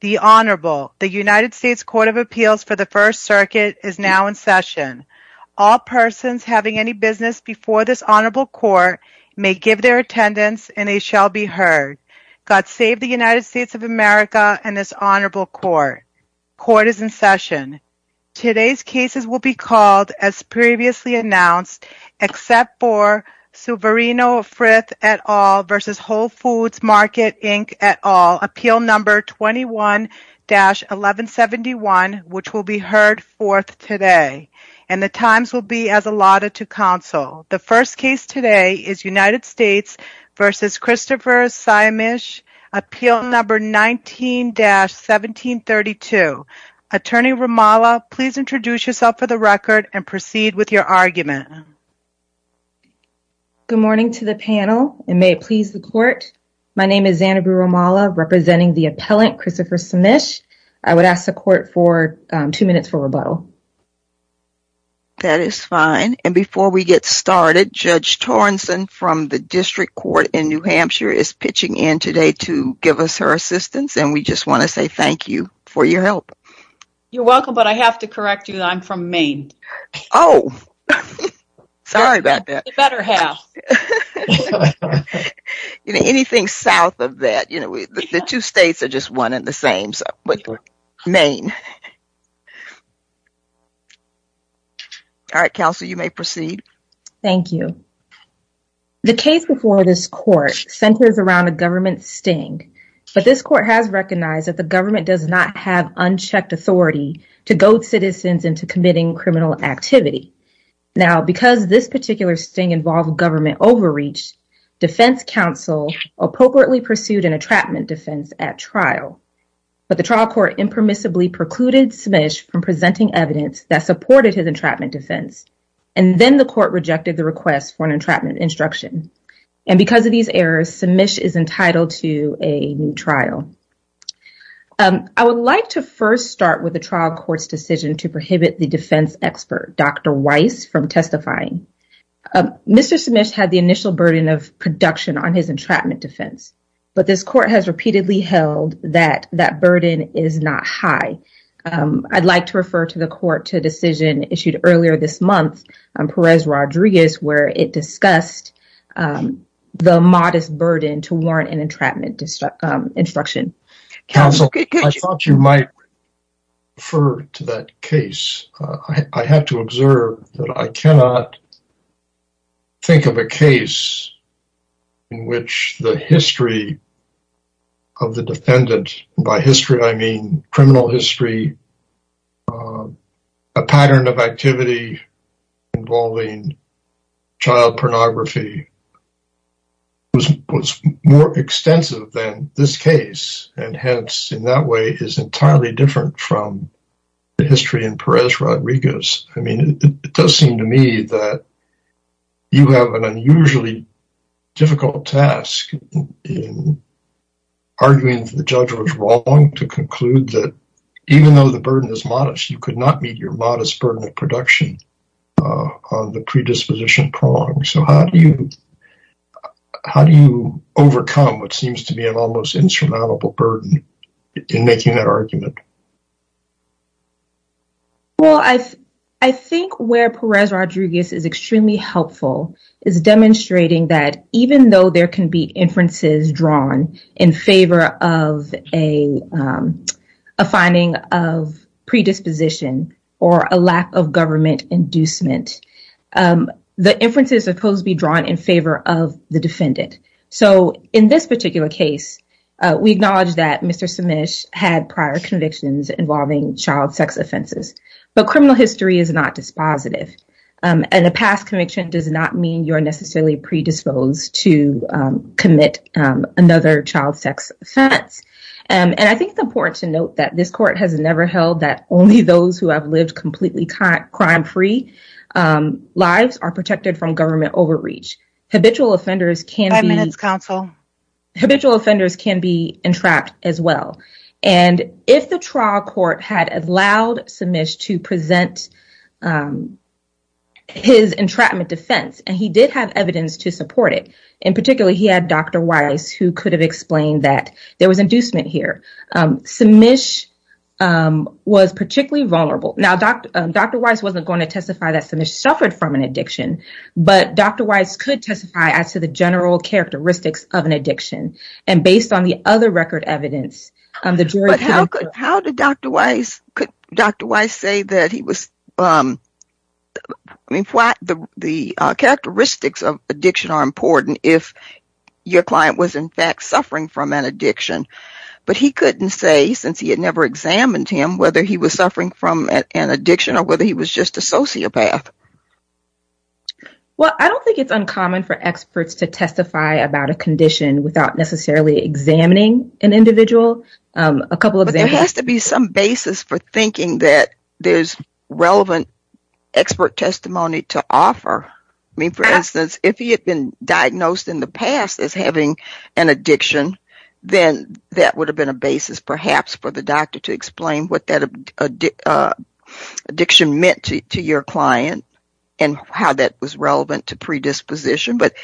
The Honorable, the United States Court of Appeals for the First Circuit is now in session. All persons having any business before this Honorable Court may give their attendance and they shall be heard. God save the United States of America and this Honorable Court. Court is in session. Today's cases will be called as previously announced except for Souverino Frith et al. v. Whole Foods Market Inc. et al. Appeal No. 21-1171 which will be heard fourth today. And the times will be as allotted to counsel. The first case today is United States v. Christopher Saemisch, Appeal No. 19-1732. Attorney Romala, please introduce yourself for the record and proceed with your argument. Good morning to the panel and may it please the court. My name is Annabelle Romala representing the appellant, Christopher Saemisch. I would ask the court for two minutes for rebuttal. That is fine and before we get started, Judge Torrenson from the District Court in New Hampshire is pitching in today to give us her assistance and we just want to say thank you for your help. You're welcome but I have to correct you that I'm from Maine. Oh, sorry about that. You better have. Anything south of that, you know, the two states are just one and the same but Maine. All right, counsel, you may proceed. Thank you. The case before this court centers around a government sting but this court has recognized that the government does not have activity. Now because this particular sting involved government overreach, defense counsel appropriately pursued an entrapment defense at trial but the trial court impermissibly precluded Saemisch from presenting evidence that supported his entrapment defense and then the court rejected the request for an entrapment instruction and because of these errors, Saemisch is entitled to a new trial. I would like to first start with trial court's decision to prohibit the defense expert, Dr. Weiss, from testifying. Mr. Saemisch had the initial burden of production on his entrapment defense but this court has repeatedly held that that burden is not high. I'd like to refer to the court to decision issued earlier this month on Perez Rodriguez where it discussed the modest burden to warrant an entrapment instruction. Counsel, I thought you might refer to that case. I have to observe that I cannot think of a case in which the history of the defendant, by history I mean criminal history, a pattern of activity involving child pornography was more extensive than this case and hence in that way is entirely different from the history in Perez Rodriguez. I mean it does seem to me that you have an unusually difficult task in arguing that the judge was wrong to the burden is modest. You could not meet your modest burden of production on the predisposition prong. So how do you overcome what seems to be an almost insurmountable burden in making that argument? Well I think where Perez Rodriguez is extremely helpful is demonstrating that even though there is a lack of predisposition or a lack of government inducement, the inference is supposed to be drawn in favor of the defendant. So in this particular case, we acknowledge that Mr. Simish had prior convictions involving child sex offenses but criminal history is not dispositive and a past conviction does not mean you're necessarily predisposed to commit another child sex offense and I think it's important to note that this court has never held that only those who have lived completely crime free lives are protected from government overreach. Habitual offenders can be entrapped as well and if the trial court had allowed Simish to present his entrapment defense and he did have evidence to support it and particularly he had Dr. Weiss who could have explained that there was inducement here. Simish was particularly vulnerable. Now Dr. Weiss wasn't going to testify that Simish suffered from an addiction but Dr. Weiss could testify as to the general characteristics of an addiction and based on the other record evidence. How did Dr. Weiss say that the characteristics of addiction are important if your client was in fact suffering from an addiction but he couldn't say since he had never examined him whether he was suffering from an addiction or whether he was just a sociopath? Well I don't think it's uncommon for experts to testify about a condition without necessarily examining an individual. A couple of examples. There has to be some basis for thinking that there's relevant expert testimony to offer. I mean for instance if he had been diagnosed in the past as having an addiction then that would have been a basis perhaps for the doctor to explain what that addiction meant to your client and how that was relevant to predisposition but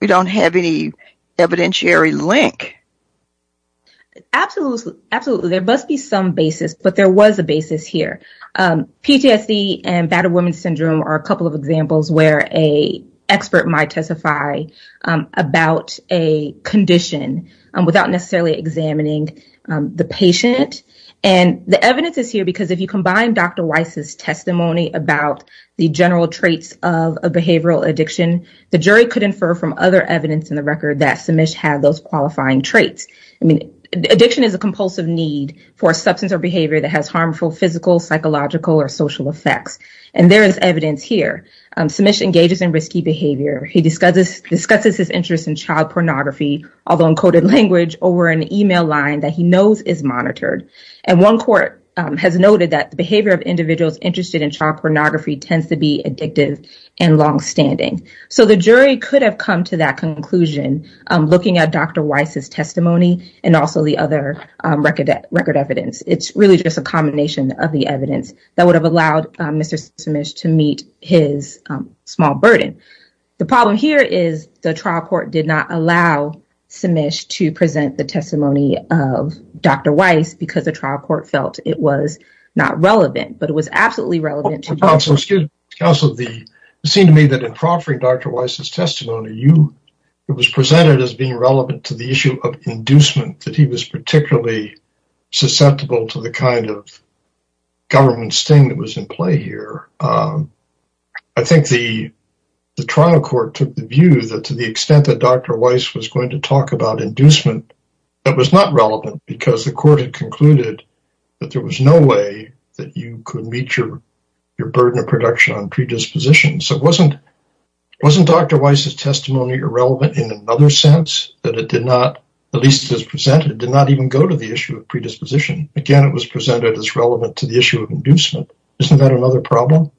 we don't have any evidentiary link. Absolutely. There must be some basis but there was a basis here. PTSD and battered women's syndrome are a couple of examples where a expert might testify about a condition without necessarily examining the patient and the evidence is here because if you combine Dr. Weiss's testimony about the general traits of a behavioral addiction the jury could infer from other evidence in the record that Simish had those qualifying traits. I mean addiction is a compulsive need for a substance or behavior that has harmful physical psychological or social effects and there is evidence here. Simish engages in risky behavior. He discusses discusses his interest in child pornography although in coded language over an email line that he knows is monitored and one court has noted that the behavior of individuals interested in child pornography tends to be addictive and long-standing. So the jury could have come to that conclusion looking at Dr. Weiss's testimony and also the other record evidence. It's really just a combination of the evidence that would have allowed Mr. Simish to meet his small burden. The problem here is the trial court did not allow Simish to present the testimony of Dr. Weiss because the trial court felt it was not relevant but it was absolutely relevant. Counselor, it seemed to me that in proffering Dr. Weiss's testimony it was presented as being relevant to the issue of inducement that he was particularly susceptible to the kind of government sting that was in play here. I think the trial court took the view that to the extent that Dr. Weiss was going to talk about inducement that was not relevant because the court had your burden of production on predisposition. So wasn't wasn't Dr. Weiss's testimony irrelevant in another sense that it did not at least as presented did not even go to the issue of predisposition. Again it was presented as relevant to the issue of inducement. Isn't that another problem?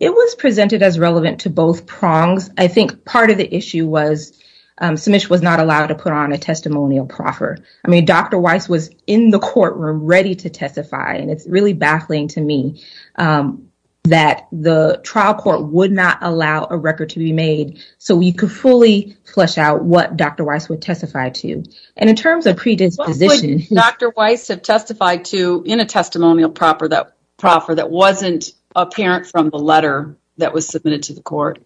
It was presented as relevant to both prongs. I think part of the issue was Simish was not allowed to put on a testimonial proffer. I mean Dr. Weiss was in the courtroom ready to testify and it's really baffling to me that the trial court would not allow a record to be made so we could fully flesh out what Dr. Weiss would testify to and in terms of predisposition. Would Dr. Weiss have testified to in a testimonial proffer that wasn't apparent from the letter that was submitted to the court?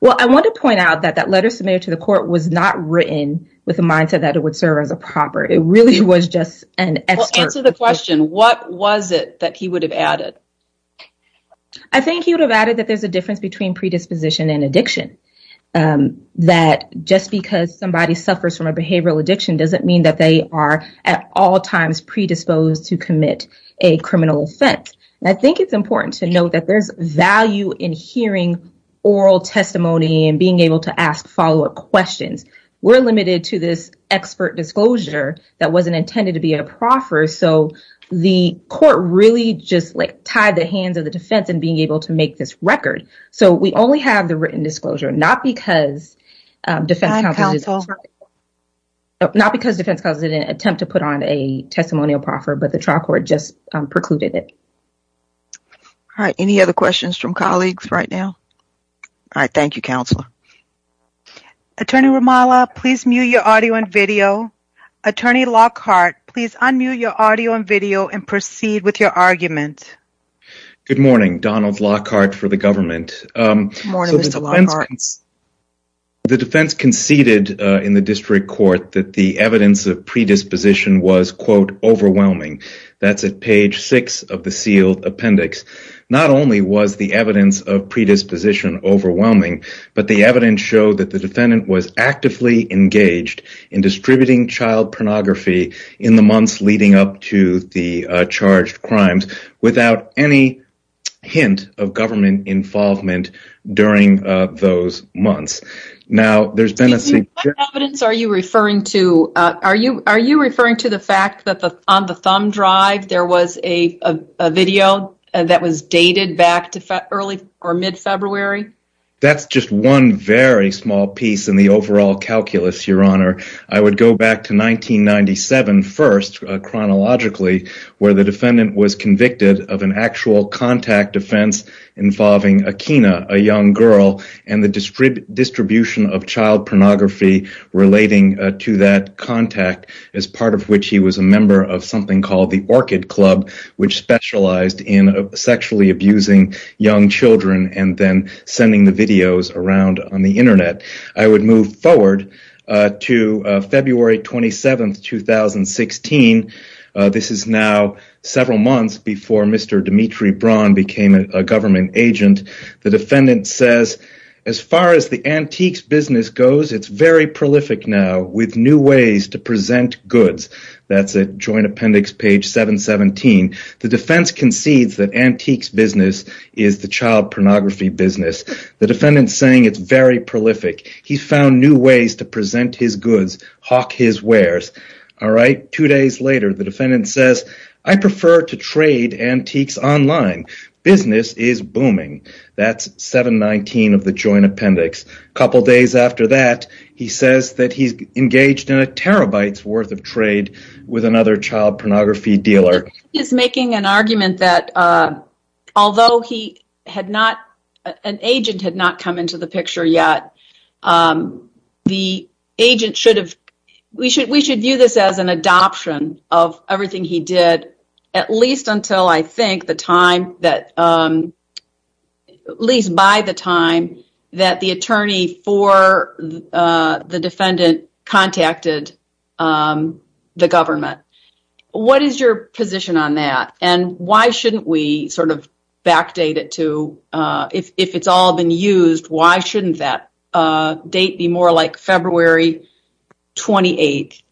Well I want to point out that that letter submitted to the court was not written with a mindset that it would serve as a proper. It really was just an expert. Answer the question what was it that he would have added? I think he would have added that there's a difference between predisposition and addiction. That just because somebody suffers from a behavioral addiction doesn't mean that they are at all times predisposed to commit a criminal offense. I think it's important to note that there's value in hearing oral testimony and being able to ask follow-up questions. We're limited to this expert disclosure that wasn't intended to be a proffer so the court really just like tied the hands of the defense in being able to make this record. So we only have the written disclosure not because defense counsel not because defense counsel didn't attempt to put on a testimonial proffer but the trial court just precluded it. All right any other questions from colleagues right now? All right thank you counselor. Attorney Romala please mute your audio and video. Attorney Lockhart please unmute your audio and video and proceed with your argument. Good morning Donald Lockhart for the government. The defense conceded in the district court that the evidence of predisposition was quote overwhelming. That's at page six of the sealed appendix. Not only was the evidence of predisposition overwhelming but the evidence showed that the defendant was actively engaged in distributing child pornography in the months leading up to the charged crimes without any hint of government involvement during those months. Now there's been a... What evidence are you referring to? Are you referring to the fact that on the thumb drive there was a video that was dated back to early or mid-February? That's just one very small piece in the overall calculus your honor. I would go back to 1997 first chronologically where the defendant was convicted of an actual contact offense involving Akina a young girl and the distribution of child pornography relating to that contact as part of which he was a member of something called the Orchid Club which specialized in sexually abusing young children and then sending the videos around on the internet. I would move forward to February 27, 2016. This is now several months before Mr. Dmitri Braun became a government agent. The defendant says as far as the antiques business goes it's very prolific now with new ways to present goods. That's a joint appendix page 717. The defense concedes that antiques business is the child pornography business. The defendant saying it's very prolific. He found new ways to present his goods, hawk his wares. Two days later the defendant says I prefer to trade antiques online. Business is booming. That's 719 of the joint appendix. A couple days after that he says that he's engaged in a terabytes worth of trade with another child pornography dealer. He's making an argument that although he had not, an agent had not come into the picture yet, the agent should have, we should view this as an adoption of everything he did at least until I think the time that, at least by the time that the attorney for the defendant contacted the government. What is your position on that and why shouldn't we sort of backdate it to, if it's all been used, why shouldn't that date be more like February 28?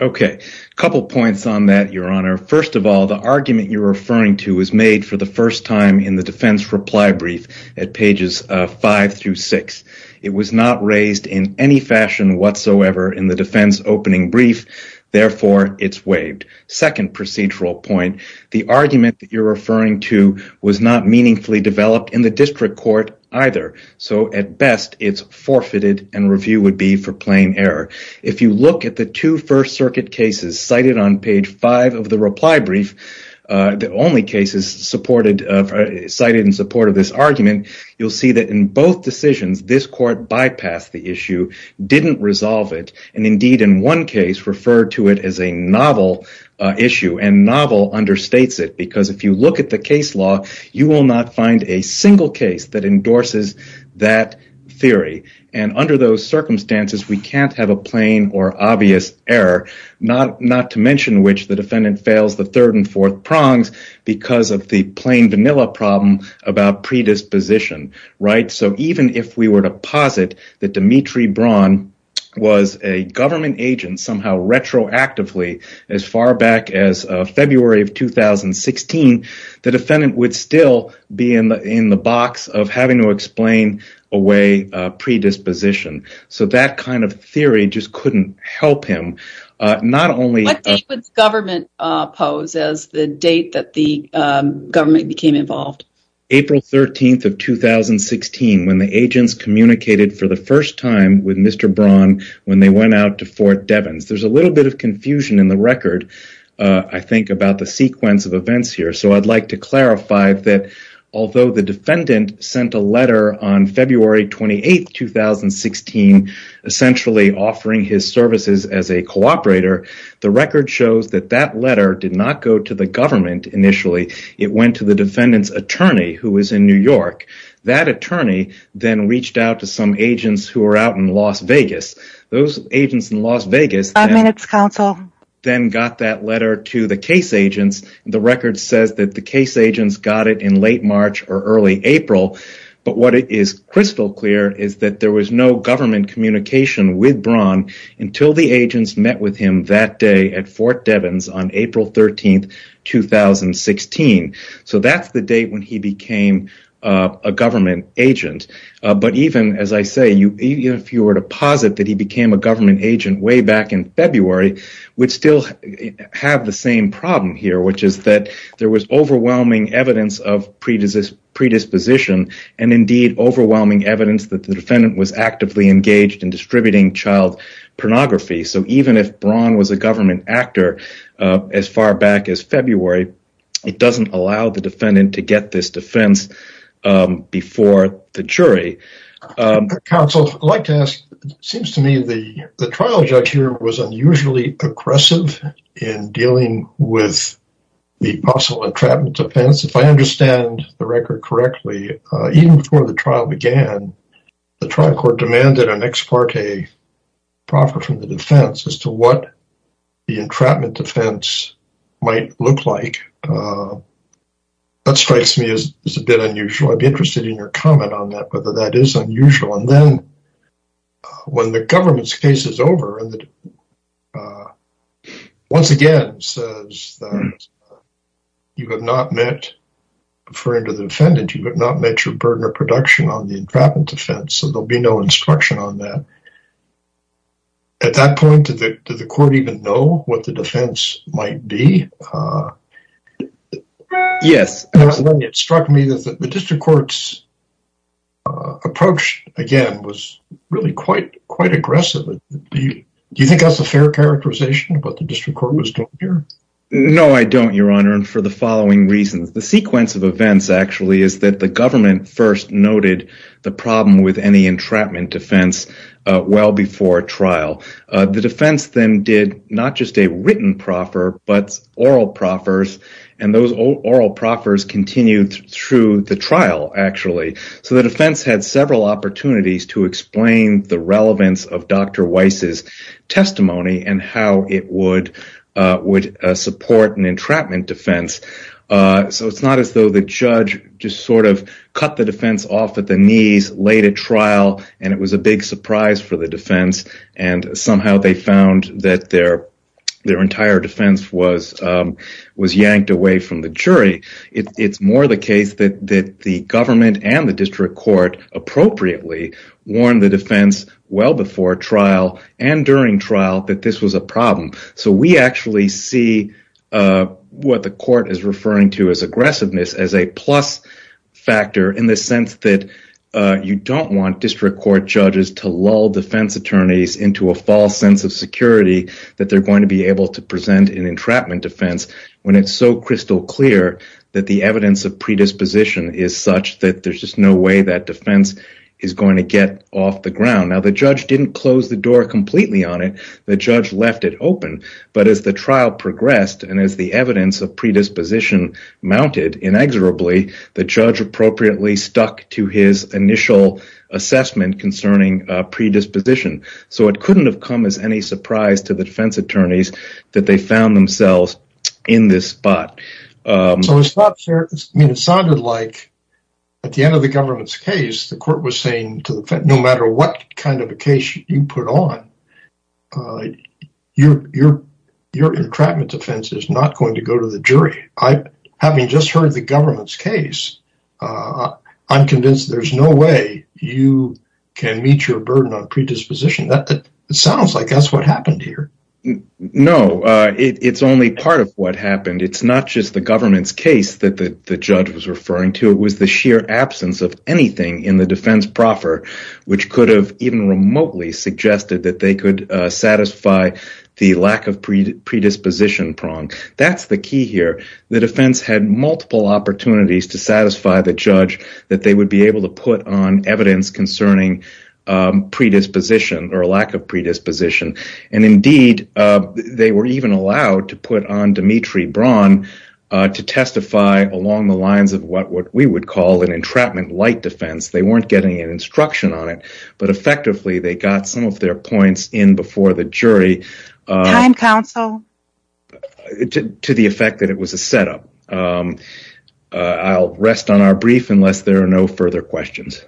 Okay, a couple points on that your honor. First of all the argument you're referring to is made for the first time in the defense reply brief at pages five through six. It was not raised in any fashion whatsoever in the defense opening brief, therefore it's waived. Second procedural point, the argument that you're referring to was not meaningfully developed in the district court either, so at best it's forfeited and review would be for plain error. If you look at the two first circuit cases cited on page five of the reply brief, the only cases cited in support of this argument, you'll see that in both decisions this court bypassed the issue, didn't resolve it, and indeed in one case referred to it as a novel issue, and novel understates it because if you look at the case law, you will not find a single case that endorses that theory, and under those circumstances we can't have a plain or obvious error, not to mention which the defendant fails the third and fourth prongs because of the plain vanilla problem about predisposition, right? So even if we were to posit that Dimitri Braun was a government agent somehow retroactively as far back as February of 2016, the defendant would still be in the box of having to predisposition, so that kind of theory just couldn't help him. What date would government pose as the date that the government became involved? April 13th of 2016, when the agents communicated for the first time with Mr. Braun when they went out to Fort Devens. There's a little bit of confusion in the record, I think, about the sequence of events here, so I'd like to clarify that although the defendant sent a letter on February 28th, 2016, essentially offering his services as a cooperator, the record shows that that letter did not go to the government initially, it went to the defendant's attorney who was in New York. That attorney then reached out to some agents who were out in Las Vegas. Those agents in Las Vegas then got that letter to the case got it in late March or early April, but what is crystal clear is that there was no government communication with Braun until the agents met with him that day at Fort Devens on April 13th, 2016. So that's the date when he became a government agent, but even as I say, if you were to posit that he became a government agent way back in February, we'd still have the same problem here, which is that there was overwhelming evidence of predisposition and indeed overwhelming evidence that the defendant was actively engaged in distributing child pornography. So even if Braun was a government actor as far back as February, it doesn't allow the defendant to get this defense before the jury. Counsel, I'd like to ask, it seems to me the trial judge here was unusually aggressive in dealing with the possible entrapment defense. If I understand the record correctly, even before the trial began, the trial court demanded an ex parte proffer from the defense as to what the entrapment defense might look like. That strikes me as a bit unusual. I'd be interested in your comment on that, whether that is unusual. And then when the government's case is over, once again says that you have not met, referring to the defendant, you have not met your burden of production on the entrapment defense. So there'll be no instruction on that. At that point, did the court even know what the defense might be? Yes. It struck me that the district court's approach again was really quite aggressive. Do you think that's a fair characterization about the district court was doing here? No, I don't, your honor. And for the following reasons, the sequence of events actually is that the government first noted the problem with any entrapment defense well before trial. The defense then did not just a written proffer, but oral proffers. And those oral proffers continued through the trial actually. So the defense had several opportunities to explain the relevance of Dr. Weiss's testimony and how it would support an entrapment defense. So it's not as though the judge just sort of cut the defense off at the knees, laid a trial, and it was a big surprise for the defense. And somehow they found that their entire defense was yanked away from the jury. It's more the case that the government and the district court appropriately warned the defense well before trial and during trial that this was a problem. So we actually see what the court is referring to as aggressiveness as a plus factor in the sense that you don't want district court judges to lull defense attorneys into a false sense of security that they're going to be able to present an entrapment defense when it's so crystal clear that the evidence of predisposition is such that there's just no way that defense is going to get off the ground. Now, the judge didn't close the door completely on it. The judge left it open. But as the trial progressed and as the evidence of predisposition mounted inexorably, the judge appropriately stuck to his initial assessment concerning predisposition. So it couldn't have come as any surprise to the defense attorneys that they found themselves in this spot. So it sounded like at the end of the government's case, the court was saying, no matter what kind of a case you put on, your entrapment defense is not going to go to the jury. Having just heard the government's case, I'm convinced there's no way you can meet your burden on predisposition. It sounds like that's what happened here. No, it's only part of what happened. It's not just the government's case that the judge was referring to. It was the sheer absence of anything in the defense proffer, which could have even remotely suggested that they could satisfy the lack of predisposition prong. That's the key here. The defense had multiple opportunities to or a lack of predisposition. Indeed, they were even allowed to put on Dmitry Braun to testify along the lines of what we would call an entrapment light defense. They weren't getting an instruction on it, but effectively they got some of their points in before the jury to the effect that it was a setup. I'll rest on our brief unless there are no further questions.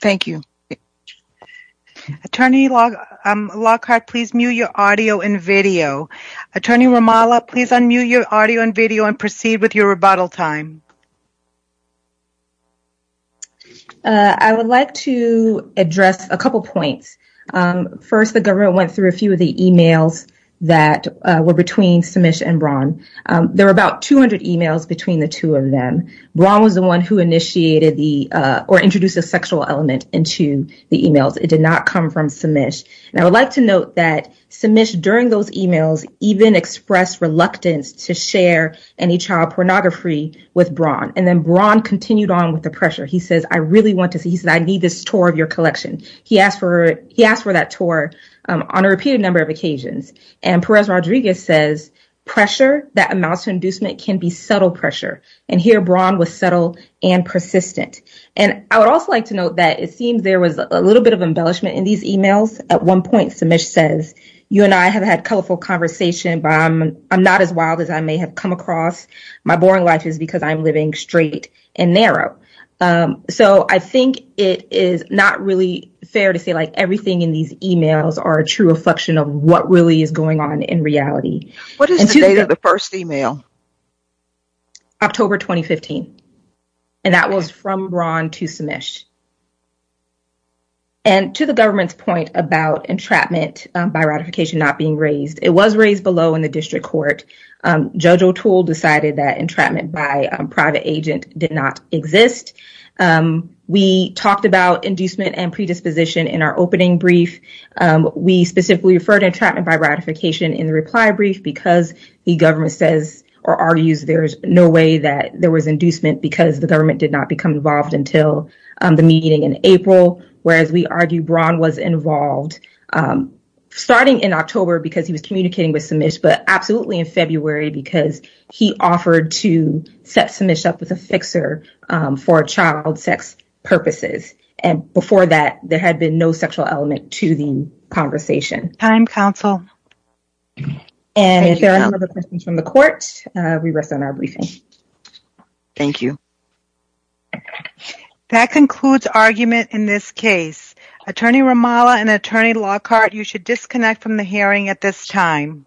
Thank you. Attorney Lockhart, please mute your audio and video. Attorney Romala, please unmute your audio and video and proceed with your rebuttal time. I would like to address a couple points. First, the government went through a few of the emails that were between Simish and Braun. There were about 200 emails between the two of them. Braun was the one who introduced the sexual element into the emails. It did not come from Simish. I would like to note that Simish, during those emails, even expressed reluctance to share any child pornography with Braun. Then Braun continued on with the pressure. He says, I really want to see. He said, I need this tour of your collection. He asked for that tour on a repeated number of occasions. Perez Rodriguez says, pressure, that amounts to subtle pressure. Here, Braun was subtle and persistent. I would also like to note that it seems there was a little bit of embellishment in these emails. At one point, Simish says, you and I have had colorful conversation, but I'm not as wild as I may have come across. My boring life is because I'm living straight and narrow. I think it is not really fair to say everything in these emails are a true reflection of what really is going on in reality. What is the date of the first email? October 2015. That was from Braun to Simish. To the government's point about entrapment by ratification not being raised, it was raised below in the district court. Judge O'Toole decided that entrapment by a private agent did not exist. We talked about inducement and predisposition in our opening brief. We specifically referred to entrapment by ratification in the reply brief because the government says or argues there's no way that there was inducement because the government did not become involved until the meeting in April, whereas we argue Braun was involved starting in October because he was communicating with Simish, but absolutely in February because he offered to set Simish up with a fixer for child sex purposes. Before that, there had been no sexual element to the counsel. If there are no other questions from the court, we rest on our briefing. Thank you. That concludes argument in this case. Attorney Romala and Attorney Lockhart, you should disconnect from the hearing at this time.